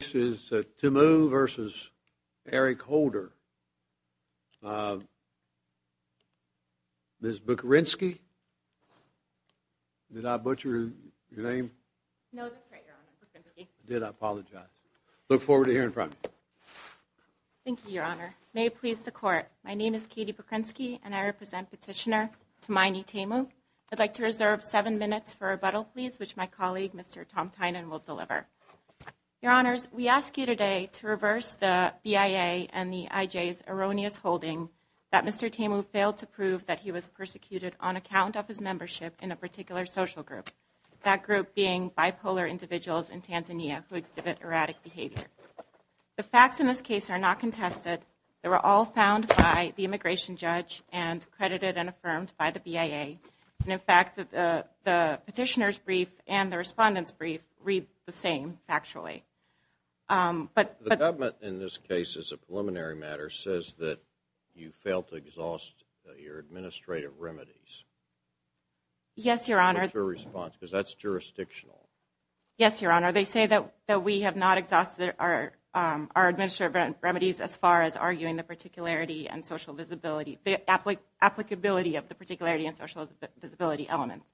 This is Temu v. Eric Holder. Ms. Bukurynski? Did I butcher your name? No, that's right, Your Honor. Bukurynski. I did. I apologize. Look forward to hearing from you. Thank you, Your Honor. May it please the Court, my name is Katie Bukurynski, and I represent Petitioner Tumaini Temu. I'd like to reserve seven minutes for rebuttal, please, which my colleague, Mr. Tom Tynan, will deliver. Your Honors, we ask you today to reverse the BIA and the IJ's erroneous holding that Mr. Temu failed to prove that he was persecuted on account of his membership in a particular social group, that group being bipolar individuals in Tanzania who exhibit erratic behavior. The facts in this case are not contested. They were all found by the immigration judge and credited and affirmed by the BIA. And in fact, the petitioner's brief and the respondent's brief read the same, actually. The government, in this case, as a preliminary matter, says that you failed to exhaust your administrative remedies. Yes, Your Honor. What's your response? Because that's jurisdictional. Yes, Your Honor. They say that we have not exhausted our administrative remedies as far as arguing the particularity and social visibility, the applicability of the particularity and social visibility elements.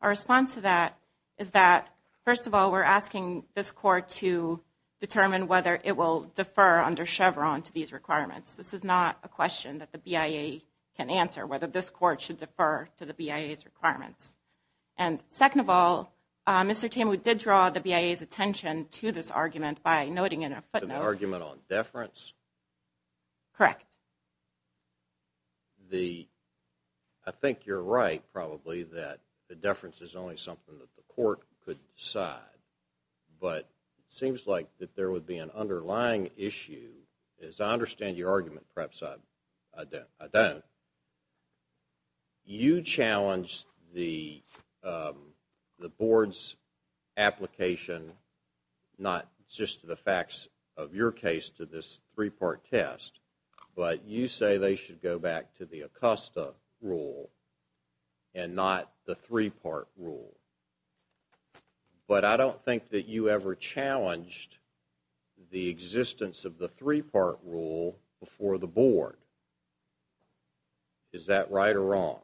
Our response to that is that, first of all, we're asking this court to determine whether it will defer under Chevron to these requirements. This is not a question that the BIA can answer, whether this court should defer to the BIA's requirements. And second of all, Mr. Temu did draw the BIA's attention to this argument by noting in a footnote— The argument on deference? Correct. I think you're right, probably, that the deference is only something that the court could decide. But it seems like that there would be an underlying issue. As I understand your argument, perhaps I don't. You challenged the board's application, not just to the facts of your case to this three-part test, but you say they should go back to the Acosta rule and not the three-part rule. But I don't think that you ever challenged the existence of the three-part rule before the board. Is that right or wrong?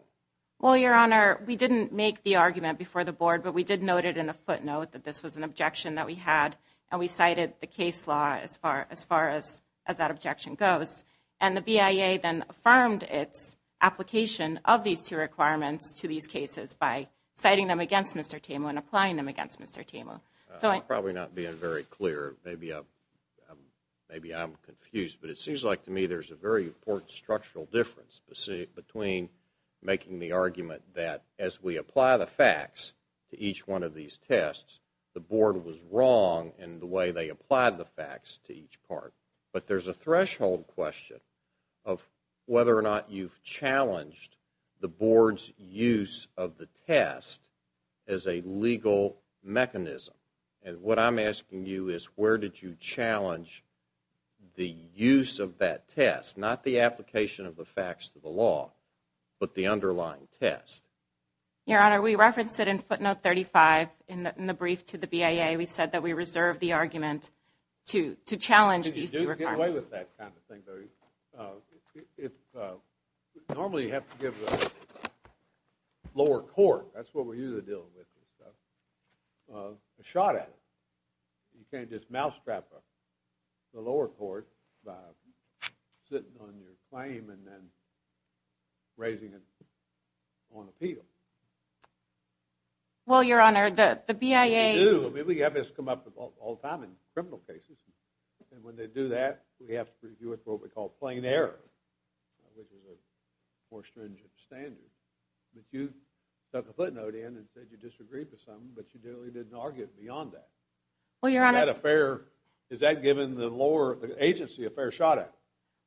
Well, Your Honor, we didn't make the argument before the board, but we did note it in a footnote that this was an objection that we had, and we cited the case law as far as that objection goes. And the BIA then affirmed its application of these two requirements to these cases by citing them against Mr. Temu and applying them against Mr. Temu. I'm probably not being very clear. Maybe I'm confused, but it seems like to me there's a very important structural difference between making the argument that as we apply the facts to each one of these tests, the board was wrong in the way they applied the facts to each part. But there's a threshold question of whether or not you've challenged the board's use of the test as a legal mechanism. And what I'm asking you is where did you challenge the use of that test, not the application of the facts to the law, but the underlying test? Your Honor, we referenced it in footnote 35 in the brief to the BIA. We said that we reserved the argument to challenge these two requirements. Get away with that kind of thing, Barry. Normally you have to give the lower court, that's what we're usually dealing with, a shot at it. You can't just mousetrap the lower court by sitting on your claim and then raising it on appeal. Well, Your Honor, the BIA... You do. I mean, we have this come up all the time in criminal cases. And when they do that, we have to review it for what we call plain error, which is a more stringent standard. But you took a footnote in and said you disagreed with something, but you really didn't argue it beyond that. Well, Your Honor... Is that giving the lower agency a fair shot at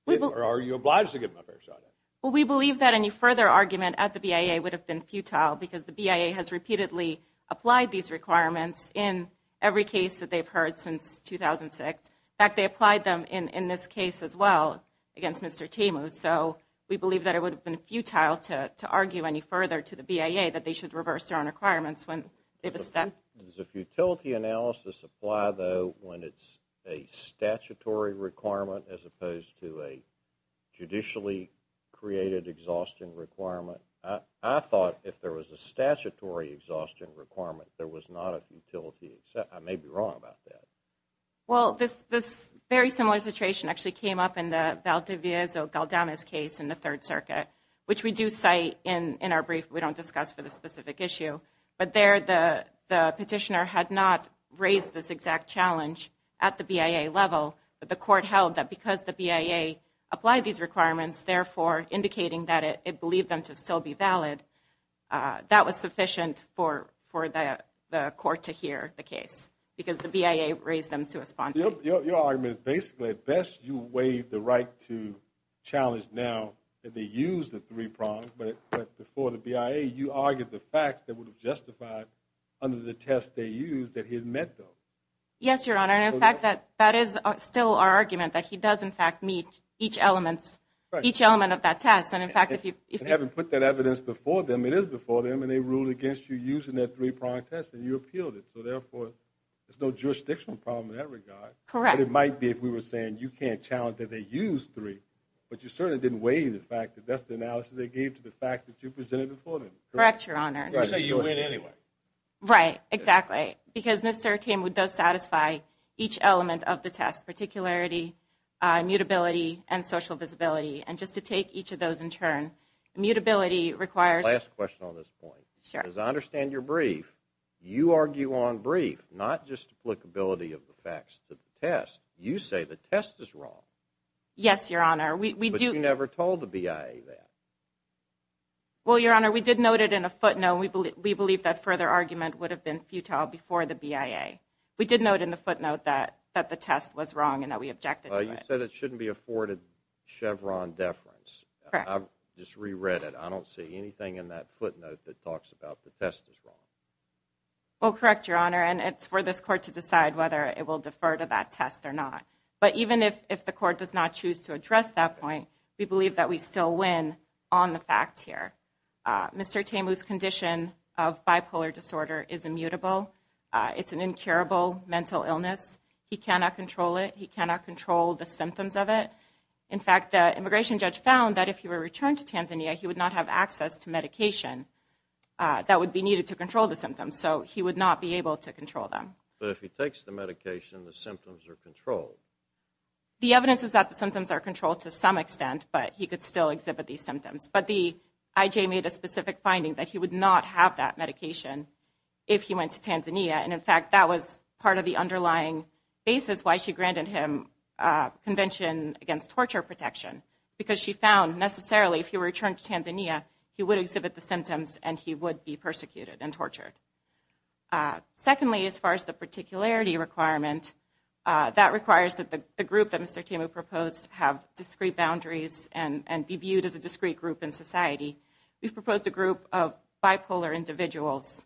it? Or are you obliged to give them a fair shot at it? Well, we believe that any further argument at the BIA would have been futile because the BIA has repeatedly applied these requirements in every case that they've heard since 2006. In fact, they applied them in this case as well against Mr. Temu. So, we believe that it would have been futile to argue any further to the BIA that they should reverse their own requirements when it was done. Does a futility analysis apply, though, when it's a statutory requirement as opposed to a judicially created exhaustion requirement? I thought if there was a statutory exhaustion requirement, there was not a futility... I may be wrong about that. Well, this very similar situation actually came up in the Valdevez-Galdanas case in the Third Circuit, which we do cite in our brief, but we don't discuss for this specific issue. But there, the petitioner had not raised this exact challenge at the BIA level, but the court held that because the BIA applied these requirements, therefore indicating that it believed them to still be valid, that was sufficient for the court to hear the case because the BIA raised them to respond. Your argument is basically, at best, you waive the right to challenge now that they use the three prongs, but before the BIA, you argued the facts that would have justified under the test they used that he had met those. Yes, Your Honor, and in fact, that is still our argument, that he does, in fact, meet each element of that test. And in fact, if you haven't put that evidence before them, it is before them, and they ruled against you using that three-prong test, and you appealed it. So therefore, there's no jurisdictional problem in that regard. Correct. But it might be if we were saying, you can't challenge that they used three, but you certainly didn't waive the fact that that's the analysis they gave to the facts that you presented before them. Correct, Your Honor. You say you win anyway. Right, exactly. Because Mr. Tamewood does satisfy each element of the test, particularity, immutability, and social visibility. And just to take each of those in turn, immutability requires... Last question on this point. Sure. Because I understand you're brief. You argue on brief, not just applicability of the facts to the test. You say the test is wrong. Yes, Your Honor. But you never told the BIA that. Well, Your Honor, we did note it in a footnote. We believe that further argument would have been futile before the BIA. We did note in the footnote that the test was wrong and that we objected to it. You said it shouldn't be afforded Chevron deference. Correct. I just reread it. I don't see anything in that footnote that talks about the test is wrong. Well, correct, Your Honor. And it's for this Court to decide whether it will defer to that test or not. But even if the Court does not choose to address that point, we believe that we still win on the facts here. Mr. Temu's condition of bipolar disorder is immutable. It's an incurable mental illness. He cannot control it. He cannot control the symptoms of it. In fact, the immigration judge found that if he were returned to Tanzania, he would not have access to medication that would be needed to control the symptoms. So he would not be able to control them. But if he takes the medication, the symptoms are controlled. The evidence is that the symptoms are controlled to some extent, but he could still exhibit these symptoms. But the IJ made a specific finding that he would not have that medication if he went to Tanzania. And, in fact, that was part of the underlying basis why she granted him Convention Against Torture Protection. Because she found, necessarily, if he were returned to Tanzania, he would exhibit the symptoms and he would be persecuted and tortured. Secondly, as far as the particularity requirement, that requires that the group that Mr. Temu proposed have discrete boundaries and be viewed as a discrete group in society. We've proposed a group of bipolar individuals,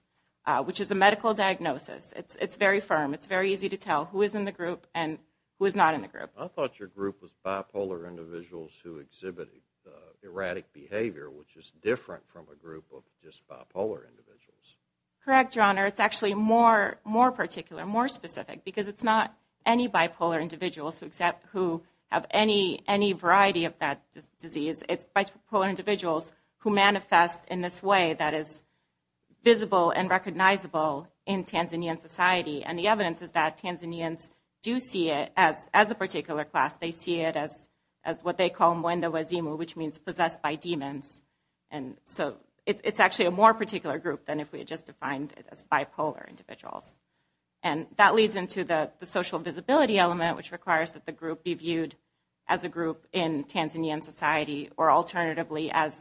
which is a medical diagnosis. It's very firm. It's very easy to tell who is in the group and who is not in the group. I thought your group was bipolar individuals who exhibited erratic behavior, which is different from a group of just bipolar individuals. Correct, Your Honor. It's actually more particular, more specific, because it's not any bipolar individuals who have any variety of that disease. It's bipolar individuals who manifest in this way that is visible and recognizable in Tanzanian society. And the evidence is that Tanzanians do see it as a particular class. They see it as what they call muwendo wazimu, which means possessed by demons. And so it's actually a more particular group than if we had just defined it as bipolar individuals. And that leads into the social visibility element, which requires that the group be viewed as a group in Tanzanian society or alternatively as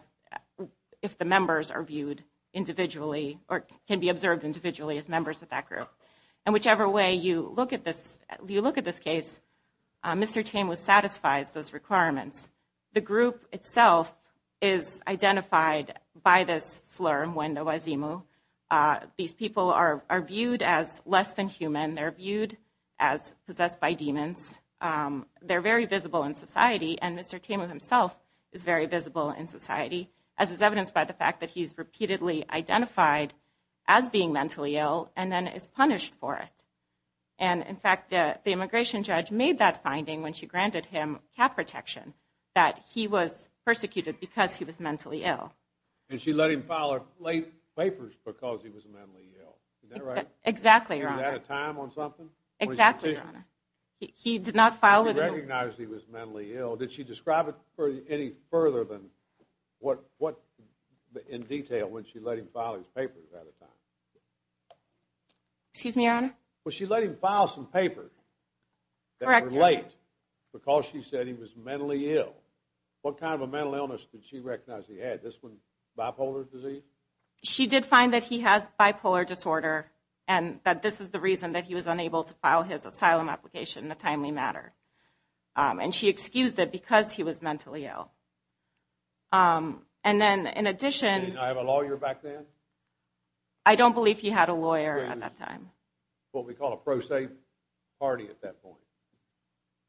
if the members are viewed individually or can be observed individually as members of that group. And whichever way you look at this case, Mr. Temu satisfies those requirements. The group itself is identified by this slur, muwendo wazimu. These people are viewed as less than human. They're viewed as possessed by demons. They're very visible in society, and Mr. Temu himself is very visible in society, as is evidenced by the fact that he's repeatedly identified as being mentally ill and then is punished for it. And in fact, the immigration judge made that finding when she granted him cap protection, that he was persecuted because he was mentally ill. And she let him file her late papers because he was mentally ill. Is that right? Exactly, Your Honor. He was out of time on something? Exactly, Your Honor. He did not file with a... He recognized he was mentally ill. Did she describe it any further than what, in detail, when she let him file his papers out of time? Excuse me, Your Honor? Well, she let him file some papers. Correct, Your Honor. Late, because she said he was mentally ill. What kind of a mental illness did she recognize he had? This one, bipolar disease? She did find that he has bipolar disorder and that this is the reason that he was unable to file his asylum application in a timely matter. And she excused it because he was mentally ill. And then, in addition... Did he not have a lawyer back then? I don't believe he had a lawyer at that time. What we call a pro se party at that point.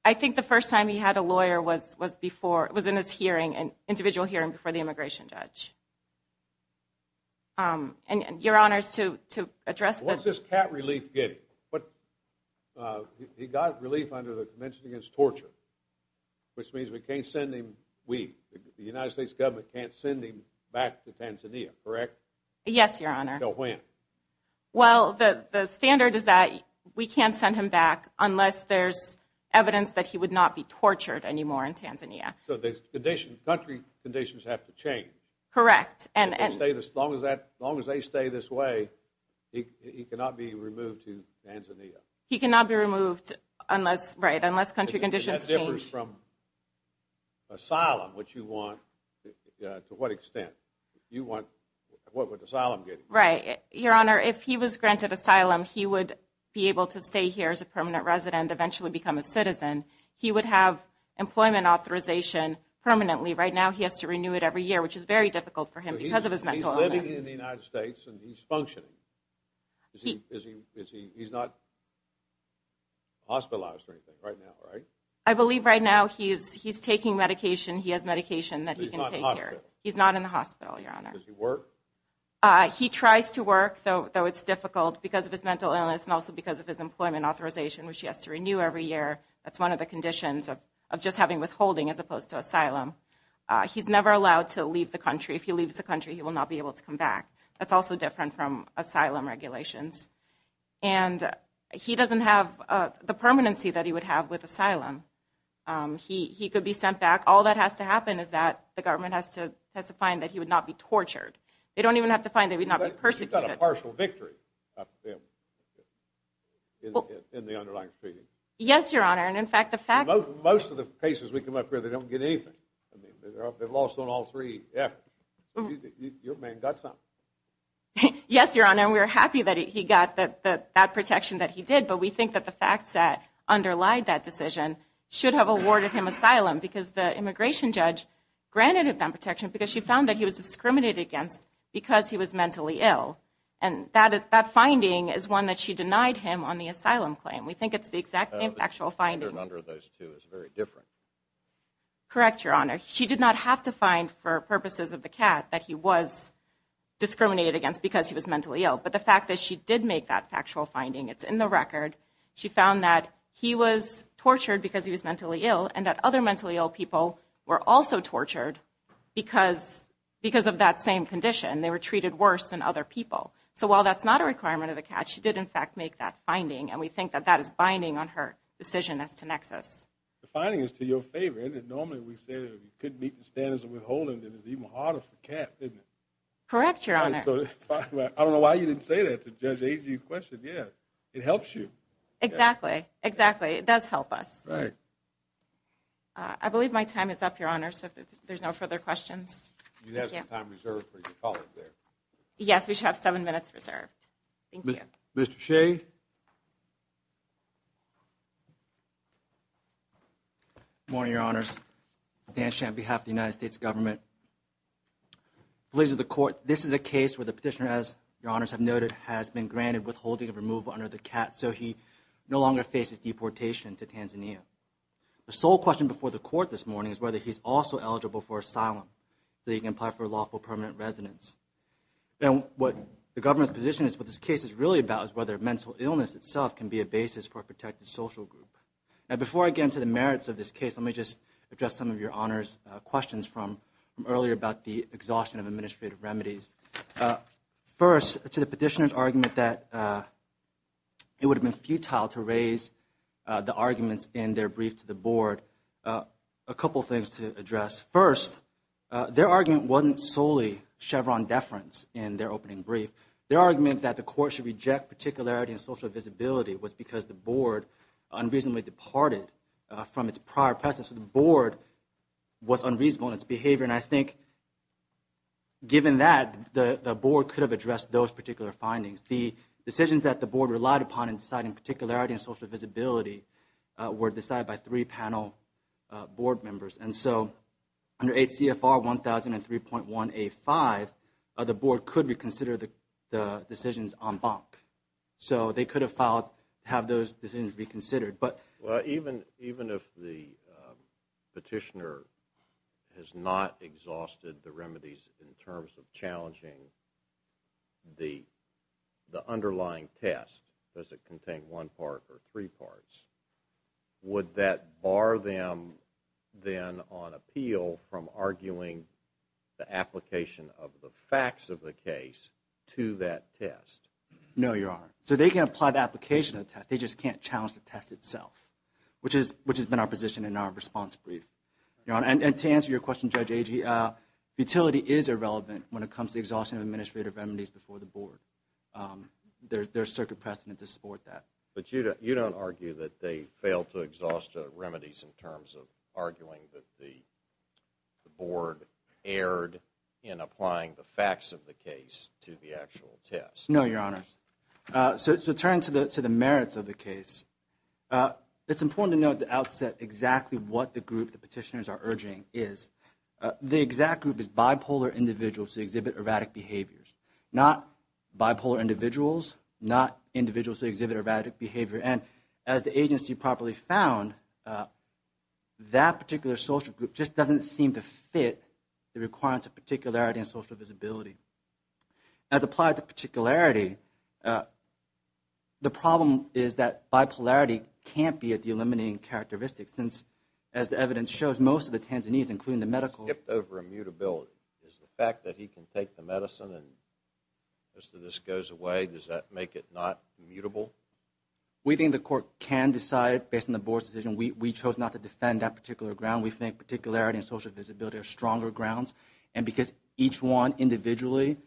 I think the first time he had a lawyer was in an individual hearing before the immigration judge. Your Honor, to address the... What's this cat relief getting? He got relief under the Convention Against Torture, which means we can't send him... We, the United States government, can't send him back to Tanzania, correct? Yes, Your Honor. Until when? Well, the standard is that we can't send him back unless there's evidence that he would not be tortured anymore in Tanzania. So the country conditions have to change. Correct. As long as they stay this way, he cannot be removed to Tanzania. He cannot be removed unless... Right, unless country conditions change. That differs from asylum, which you want... To what extent? You want... What would asylum get you? Your Honor, if he was granted asylum, he would be able to stay here as a permanent resident, eventually become a citizen. He would have employment authorization permanently. Right now he has to renew it every year, which is very difficult for him because of his mental illness. He's living in the United States and he's functioning. He's not hospitalized or anything right now, right? I believe right now he's taking medication. He has medication that he can take here. He's not in the hospital? He's not in the hospital, Your Honor. Does he work? He tries to work, though it's difficult because of his mental illness and also because of his employment authorization, which he has to renew every year. That's one of the conditions of just having withholding as opposed to asylum. He's never allowed to leave the country. If he leaves the country, he will not be able to come back. That's also different from asylum regulations. And he doesn't have the permanency that he would have with asylum. He could be sent back. All that has to happen is that the government has to find that he would not be tortured. They don't even have to find that he would not be persecuted. You've got a partial victory of him in the underlying proceedings. Yes, Your Honor. And, in fact, the facts... Most of the cases we come up with, they don't get anything. I mean, they've lost on all three. Your man got something. Yes, Your Honor. We're happy that he got that protection that he did, but we think that the facts that underlie that decision should have awarded him asylum because the immigration judge granted him that protection because she found that he was discriminated against because he was mentally ill. And that finding is one that she denied him on the asylum claim. We think it's the exact same factual finding. The standard under those two is very different. Correct, Your Honor. She did not have to find, for purposes of the cat, that he was discriminated against because he was mentally ill. But the fact that she did make that factual finding, it's in the record. She found that he was tortured because he was mentally ill and that other mentally ill people were also tortured because of that same condition. They were treated worse than other people. So while that's not a requirement of the cat, she did, in fact, make that finding, and we think that that is binding on her decision as to Nexus. The finding is to your favor, isn't it? Normally we say that if you couldn't meet the standards of withholding, then it's even harder for the cat, isn't it? Correct, Your Honor. I don't know why you didn't say that to Judge Agee's question. Yeah, it helps you. Exactly. Exactly. It does help us. Right. I believe my time is up, Your Honor. There's no further questions. You have some time reserved for your colleague there. Yes, we should have seven minutes reserved. Thank you. Mr. Shea? Good morning, Your Honors. Dan Sham, on behalf of the United States Government. This is a case where the petitioner, as Your Honors have noted, has been granted withholding of removal under the cat, so he no longer faces deportation to Tanzania. The sole question before the Court this morning is whether he's also eligible for asylum, so he can apply for lawful permanent residence. And what the Government's position is, what this case is really about, is whether mental illness itself can be a basis for a protected social group. Now, before I get into the merits of this case, let me just address some of Your Honor's questions from earlier about the exhaustion of administrative remedies. First, to the petitioner's argument that it would have been futile to raise the arguments in their brief to the Board, a couple things to address. First, their argument wasn't solely Chevron deference in their opening brief. Their argument that the Court should reject particularity and social visibility was because the Board unreasonably departed from its prior presence. The Board was unreasonable in its behavior, and I think, given that, the Board could have addressed those particular findings. The decisions that the Board relied upon in deciding particularity and social visibility were decided by three panel Board members. And so, under H.C.F.R. 1003.185, the Board could reconsider the decisions en banc. So, they could have filed, have those decisions reconsidered, but... Well, even if the petitioner has not exhausted the remedies in terms of challenging the underlying test, does it contain one part or three parts, would that bar them, then, on appeal from arguing the application of the facts of the case to that test? No, Your Honor. So, they can apply the application of the test, they just can't challenge the test itself, which has been our position in our response brief. And to answer your question, Judge Agee, futility is irrelevant when it comes to challenging the test and to support that. But you don't argue that they failed to exhaust the remedies in terms of arguing that the Board erred in applying the facts of the case to the actual test? No, Your Honor. So, turning to the merits of the case, it's important to note at the outset exactly what the group the petitioners are urging is. The exact group is bipolar individuals that exhibit erratic behaviors. Not bipolar individuals, not individuals who exhibit erratic behavior. And, as the agency properly found, that particular social group just doesn't seem to fit the requirements of particularity and social visibility. As applied to particularity, the problem is that bipolarity can't be a delimiting characteristic, since, as the evidence shows, most of the Tanzanians, including the medical... ...skipped over immutability. Is the fact that he can take the medicine and most of this goes away, does that make it not immutable? We think the Court can decide, based on the Board's decision. We chose not to defend that particular ground. We think particularity and social visibility are stronger grounds, and because each one individually,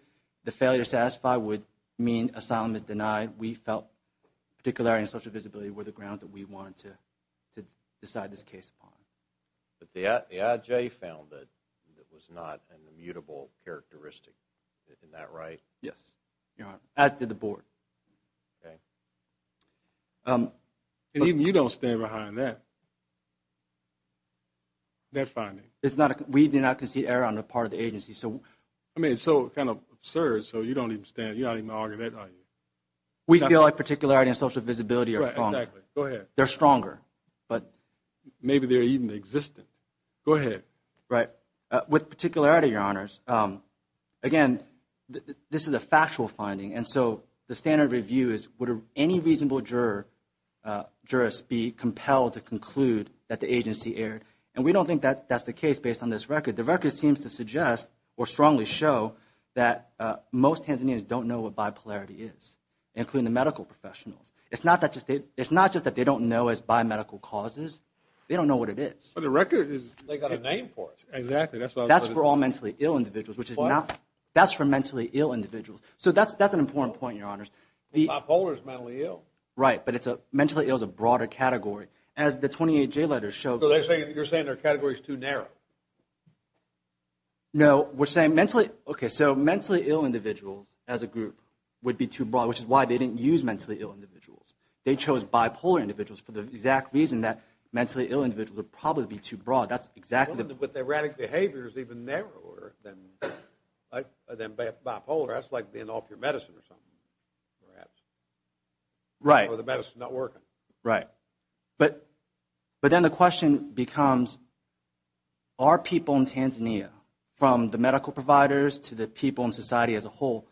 the failure to satisfy would mean asylum is denied. We felt particularity and social visibility were the grounds that we wanted to decide this case upon. But the IJ found that it was not an immutable characteristic. Isn't that right? Yes. As did the Board. And even you don't stand behind that. We did not concede error on the part of the agency, so... I mean, it's so kind of absurd, so you don't even argue that, do you? We feel like particularity and social visibility are stronger. They're stronger. Maybe they're even existent. Go ahead. With particularity, Your Honors, again, this is a factual finding, and so the standard review is, would any reasonable jurist be compelled to conclude that the agency erred? And we don't think that's the case based on this record. The record seems to suggest, or strongly show, that most Tanzanians don't know what bipolarity is, including the medical professionals. It's not just that they don't know it's bi-medical causes. They don't know what it is. But the record is, they got a name for it. That's for all mentally ill individuals, which is not... That's for mentally ill individuals. So that's an important point, Your Honors. Bipolar is mentally ill. Right, but mentally ill is a broader category. As the 28J letters show... So you're saying their category is too narrow? No, we're saying mentally... Okay, so mentally ill individuals, as a group, would be too broad, which is why they didn't use mentally ill individuals. They chose bipolar individuals for the exact reason that mentally ill individuals would probably be too broad. That's exactly... But the erratic behavior is even narrower than bipolar. That's like being off your medicine or something, perhaps. Right. Or the medicine's not working. Right. But then the question becomes, are people in Tanzania, from the medical providers to the people in society as a whole,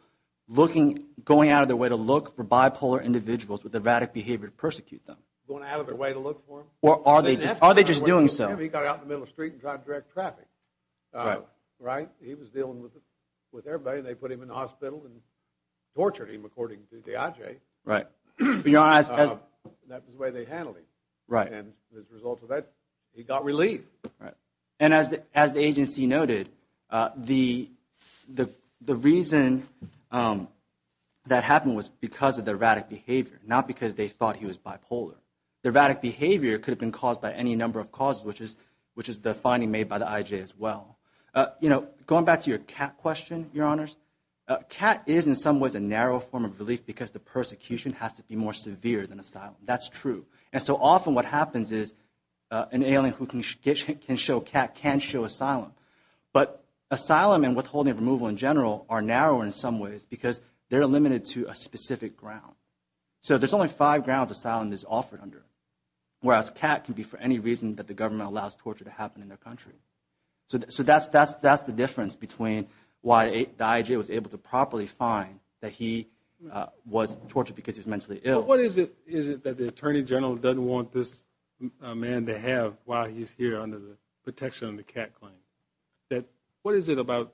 going out of their way to look for bipolar individuals with erratic behavior to persecute them? Going out of their way to look for them? Or are they just doing so? He got out in the middle of the street and tried to direct traffic. Right? He was dealing with everybody and they put him in the hospital and tortured him, according to the IJ. Right. That was the way they handled him. And as a result of that, he got relief. And as the agency noted, the reason that happened was because of the erratic behavior, not because they thought he was bipolar. The erratic behavior could have been caused by any number of causes, which is the finding made by the IJ as well. Going back to your cat question, your honors, cat is in some ways a narrow form of relief because the persecution has to be more severe than asylum. That's true. And so often what happens is an alien who can show cat can show asylum. But asylum and withholding and removal in general are narrower in some ways because they're limited to a specific ground. So there's only five grounds asylum is offered under. Whereas cat can be for any reason that the government allows torture to happen in their country. So that's the difference between why the IJ was able to properly find that he was tortured because he was mentally ill. But what is it that the Attorney General doesn't want this man to have while he's here under the protection of the cat claim? What is it about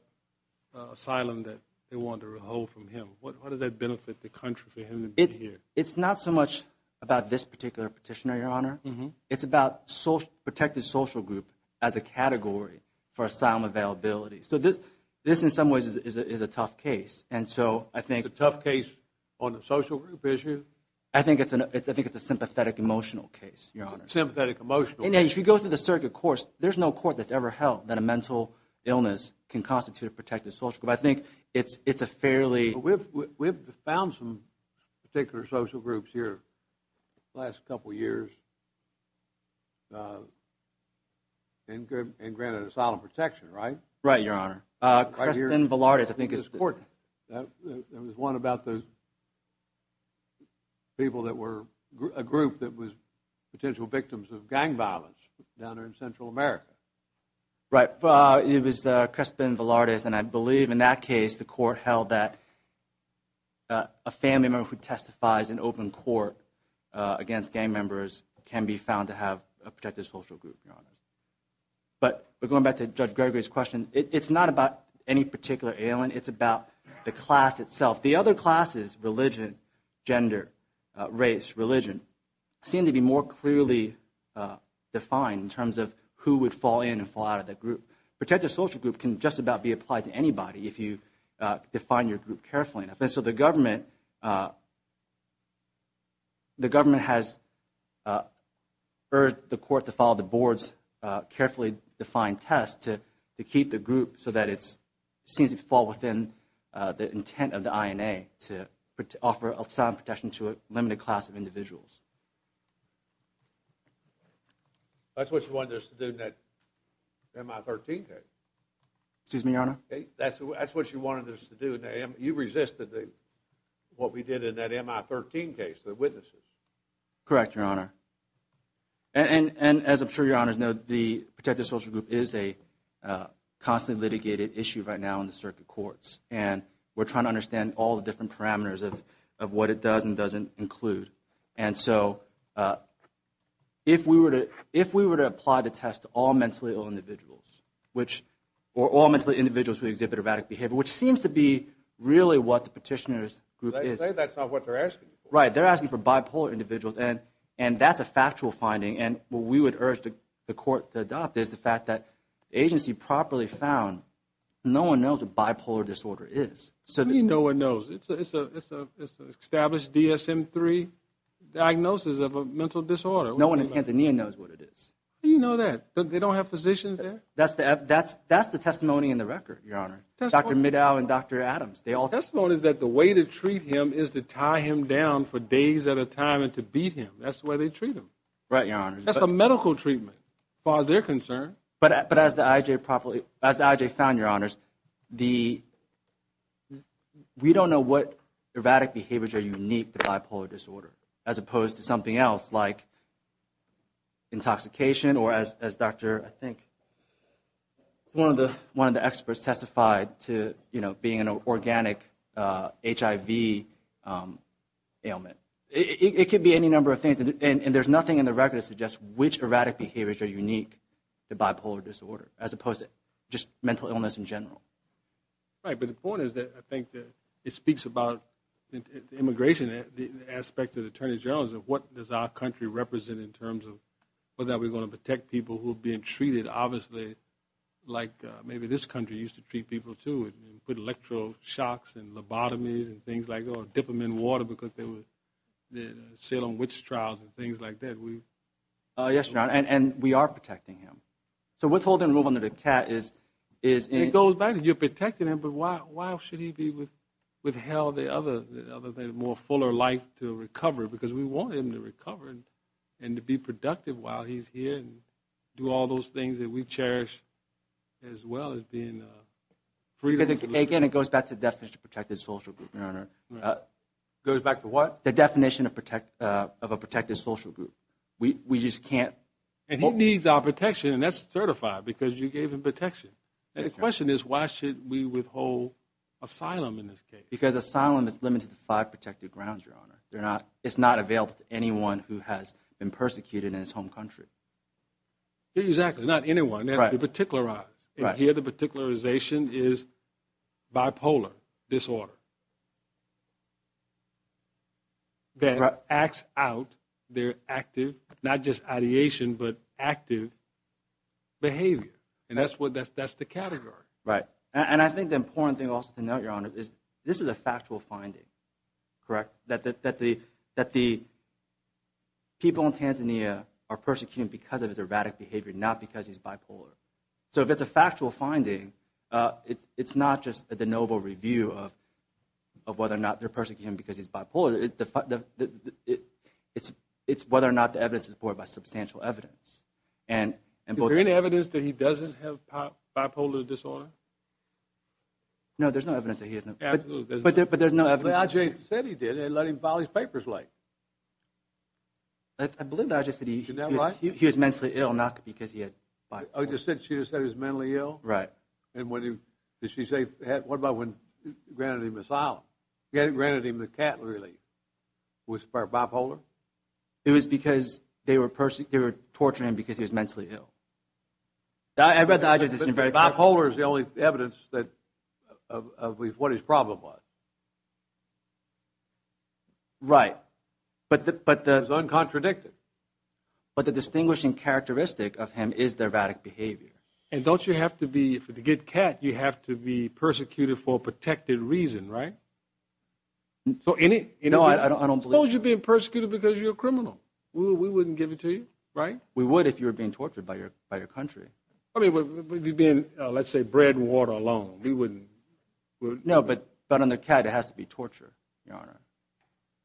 asylum that they want to withhold from him? What does that benefit the country for him to be here? It's not so much about this particular petitioner, your honor. It's about protected social group as a category for asylum availability. This in some ways is a tough case. Is it a tough case on the social group issue? I think it's a sympathetic emotional case, your honor. If you go through the circuit course, there's no court that's ever held that a mental illness can constitute a protected social group. I think it's a fairly... We've found some particular social groups here the last couple of years and granted asylum protection, right? Right, your honor. Kristen Velarde I think is... There was one about a group that was potential victims of gang violence down there in Central America. Right. It was Kristen Velarde and I believe in that case the court held that a family member who testifies in open court against gang members can be found to have a protected social group, your honor. But going back to Judge Gregory's question, it's not about any particular alien. It's about the class itself. The other classes religion, gender, race, religion, seem to be more clearly defined in terms of who would fall in and fall out of the group. Protected social group can just about be applied to anybody if you define your group carefully enough. So the government has urged the court to follow the board's carefully defined test to keep the group so that it seems to fall within the intent of the INA to offer asylum protection to a limited class of individuals. That's what you wanted us to do in that MI13 case. Excuse me, your honor? That's what you wanted us to do. You resisted what we did in that MI13 case, the witnesses. Correct, your honor. And as I'm sure your honors know, the protected social group is a constantly litigated issue right now in the circuit courts. And we're trying to understand all the different parameters of what it does and doesn't include. And so if we were to apply the test to all mentally ill individuals or all mentally ill individuals who exhibit erratic behavior, which seems to be really what the petitioner's group is. They say that's not what they're asking for. Right, they're asking for bipolar individuals and that's a factual finding. And what we would urge the court to adopt is the fact that the agency properly found no one knows what bipolar disorder is. No one knows. It's an established DSM-3 diagnosis of a mental disorder. No one in Tanzania knows what it is. How do you know that? They don't have physicians there? That's the testimony in the record, your honor. Dr. Middow and Dr. Adams. The testimony is that the way to treat him is to tie him down for days at a time and to beat him. That's the way they treat him. Right, your they're concerned. But as the IJ found, your honors, the we don't know what erratic behaviors are unique to bipolar disorder as opposed to something else like intoxication or as Dr. I think one of the experts testified to being an organic HIV ailment. It could be any number of things and there's nothing in the record that suggests which erratic behaviors are unique to bipolar disorder as opposed to just mental illness in general. Right, but the point is that I think that it speaks about immigration, the aspect of the attorney general's of what does our country represent in terms of whether we're going to protect people who are being treated obviously like maybe this country used to treat people too and put electroshocks and lobotomies and things like that or dip them in water because they would sit on witch trials and things like that. Yes, your honor, and we are protecting him. So withhold and remove under the cat is It goes back to you're protecting him but why should he be with hell the other more fuller life to recover because we want him to recover and to be productive while he's here and do all those things that we cherish as well as being free. Again, it goes back to the definition of a protected social group, your honor. Goes back to what? The definition of a protected social group. We just can't and he needs our protection and that's certified because you gave him protection and the question is why should we withhold asylum in this case because asylum is limited to five protected grounds, your honor. They're not. It's not available to anyone who has been persecuted in his home country. Exactly. Not anyone that particular eyes here. The particularization is bipolar disorder that acts out their active not just ideation but active behavior and that's what that's that's the category right and I think the important thing also to know your honor is this is a factual finding correct that the people in Tanzania are persecuting because of his erratic behavior not because he's bipolar. So if it's a factual finding it's not just the novel review of whether or not they're persecuting because he's bipolar it's whether or not the evidence is borne by substantial evidence. Is there any evidence that he doesn't have bipolar disorder? No, there's no evidence that he has but there's no evidence Ajay said he did and let him file his papers late. I believe Ajay said he was mentally ill not because he had She just said he was mentally ill? Right. And what did she say what about when granted him asylum? Granted him the cat relief. Was it for bipolar? It was because they were torturing him because he was mentally ill. I read the Ajay's essay. Bipolar is the only evidence of what his problem was. Right. It was uncontradicted. But the distinguishing characteristic of him is their erratic behavior. And don't you have to be to get cat you have to be persecuted for a protected reason, right? So any Suppose you're being persecuted because you're a criminal. We wouldn't give it to you. Right? We would if you were being tortured by your country. Let's say bread and water alone we wouldn't. But on the cat it has to be torture.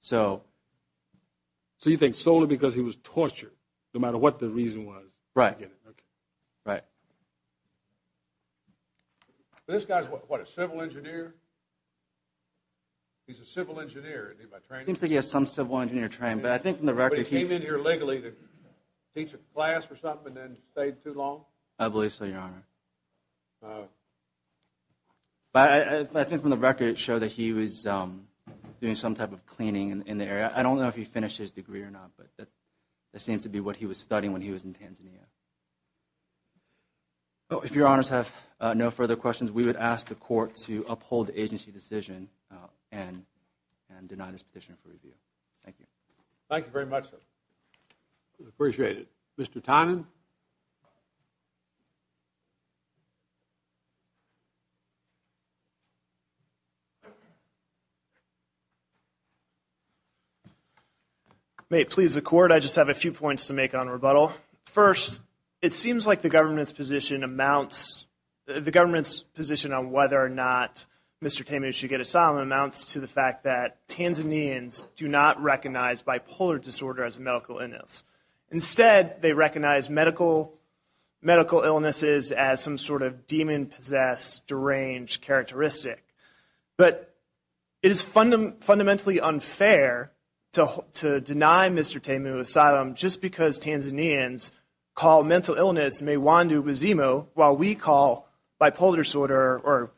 So you think solely because he was tortured no matter what the reason was. Right. Right. This guy's what a civil engineer? He's a civil engineer. Seems like he has some civil engineer trained. But I think from the record. He came in here legally to teach a class or something and then stayed too long? I believe so your honor. But I think from the record it showed that he was doing some type of cleaning in the area. I don't know if he finished his degree or not. But that seems to be what he was studying when he was in Tanzania. If your honors have no further questions we would ask the court to uphold the agency decision and deny this petition for review. Thank you. Thank you very much sir. Appreciate it. Mr. Tynan. May it please the court. I just have a few points to make on rebuttal. First, it seems like the government's position amounts the government's position on whether or not Mr. Temu should get asylum amounts to the fact that Tanzanians do not recognize bipolar disorder as a medical illness. Instead, they recognize medical illnesses as some sort of demon-possessed deranged characteristic. But it is fundamentally unfair to deny Mr. Temu asylum just because Tanzanians call mental illness mewandu bezimo while we call bipolar disorder or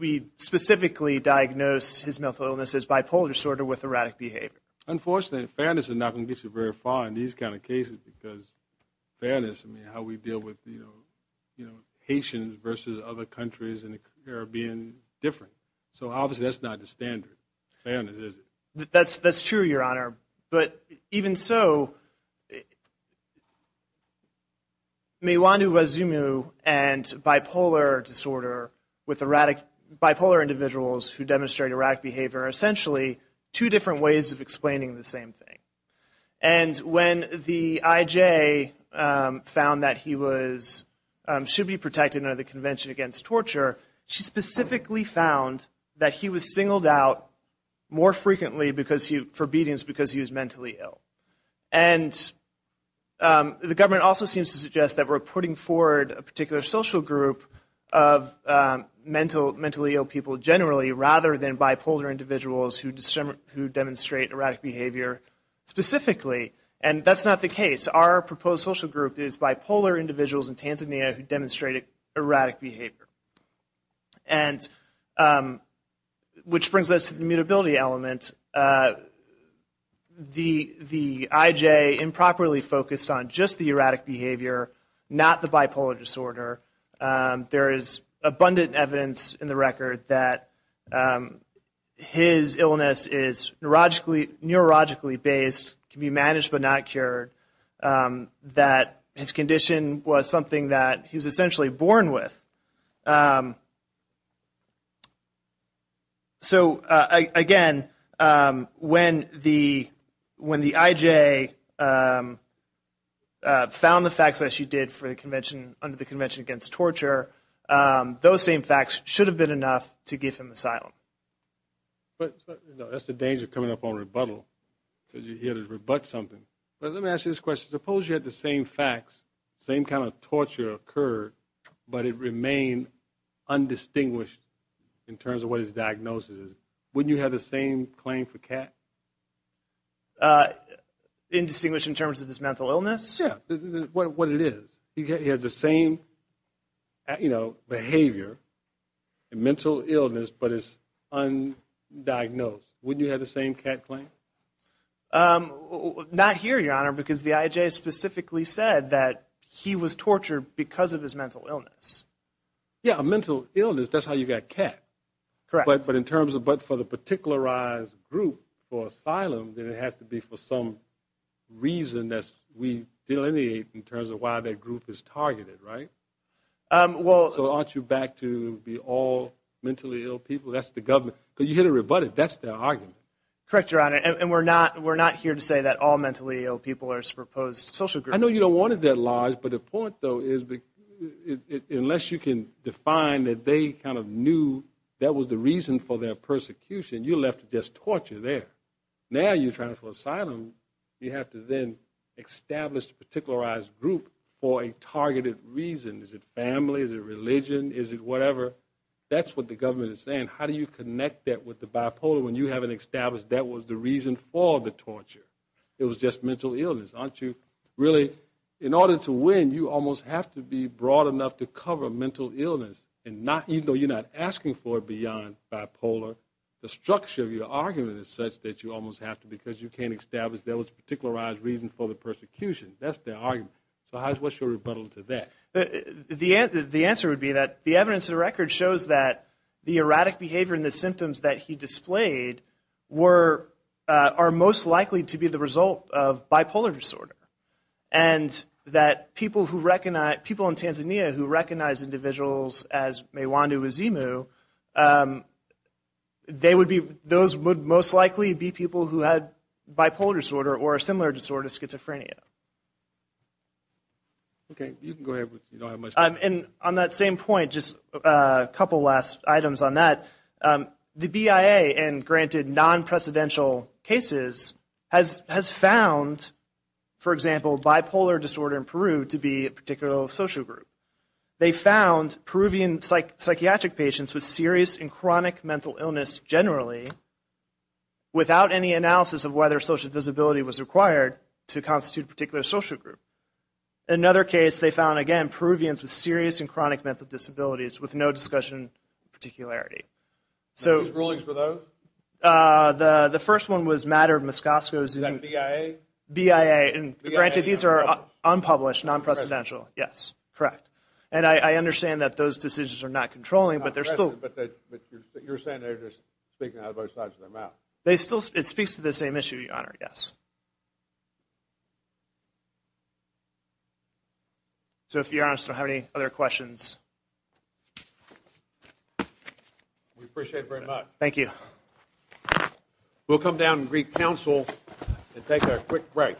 we specifically diagnose his mental illness as bipolar disorder with erratic behavior. Unfortunately fairness is not going to get you very far in these kind of cases because how we deal with Haitians versus other countries in the Caribbean different. So obviously that's not the standard. Fairness is it. That's true your honor. But even so mewandu bezimo and bipolar disorder with erratic, bipolar individuals who demonstrate erratic behavior are essentially two different ways of explaining the same thing. And when the IJ found that he was should be protected under the Convention Against Torture, she specifically found that he was singled out more frequently for beatings because he was mentally ill. And the government also seems to suggest that we're putting forward a particular social group of mentally ill people generally rather than bipolar individuals who demonstrate erratic behavior specifically. And that's not the case. Our proposed social group is bipolar individuals in Tanzania who demonstrate erratic behavior. And which brings us to the mutability element. The IJ improperly focused on just the erratic behavior not the bipolar disorder. There is abundant evidence in the record that his illness is neurologically based, can be managed but not cured, that his condition was something that he was essentially born with. So again when the IJ found the facts that she did under the Convention Against Torture, those same facts should have been enough to give him asylum. That's the danger of coming up on rebuttal because you're here to rebut something. Let me ask you this question. Suppose you had the same facts, same kind of torture occurred but it remained undistinguished in terms of what his diagnosis is. Wouldn't you have the same claim for Kat? Indistinguished in terms of his mental illness? Yeah, what it is. He has the same behavior and mental illness but it's undiagnosed. Wouldn't you have the same Kat claim? Not here, Your Honor because the IJ specifically said that he was tortured because of his mental illness. Yeah, a mental illness, that's how you got Kat. Correct. But in terms of the particularized group for asylum, then it has to be for some reason that we delineate in terms of why that group is targeted, right? So aren't you back to be all mentally ill people? That's the government. But you're here to rebut it. That's their argument. Correct, Your Honor. And we're not here to say that all mentally ill people are supposed social groups. I know you don't want it that large but the point though is unless you can define that they kind of knew that was the reason for their persecution, you're left with just torture there. Now you're trying for asylum, you have to then establish a particularized group for a targeted reason. Is it family? Is it religion? Is it whatever? That's what the government is saying. How do you connect that with the bipolar when you haven't established that was the reason for the torture? It was just mental illness, aren't you? Really, in order to win, you almost have to be broad enough to cover mental illness. And even though you're not asking for it beyond bipolar, the structure of your argument is such that you almost have to because you can't establish there was a particularized reason for the persecution. That's their argument. So what's your rebuttal to that? The answer would be that the evidence of the record shows that the erratic behavior and the symptoms that he displayed were, are most likely to be the result of bipolar disorder. And that people who recognize, people in Tanzania who recognize individuals as Mewandu, Azimu, they would be, those would most likely be people who had bipolar disorder or a similar disorder, schizophrenia. Okay. You can go ahead. You don't have much time. And on that same point, just a couple last items on that. The BIA and granted non-precedential cases has found, for example, bipolar disorder in Peru to be a particular social group. They found Peruvian psychiatric patients with serious and chronic mental illness generally without any analysis of whether social disability was required to constitute a particular social group. Another case, they found, again, Peruvians with serious and chronic mental disabilities with no discussion of particularity. Whose rulings were those? The first one was Matter of Moscosco. Is that BIA? BIA. And granted, these are unpublished, non-precedential. Yes. Correct. And I understand that those decisions are not controlling, but they're still... But you're saying they're just speaking out of both sides of their mouth. It speaks to the same issue, Your Honor. Yes. So if you're honest, I don't have any other questions. We appreciate it very much. Thank you. We'll come down and greet counsel and take a quick break.............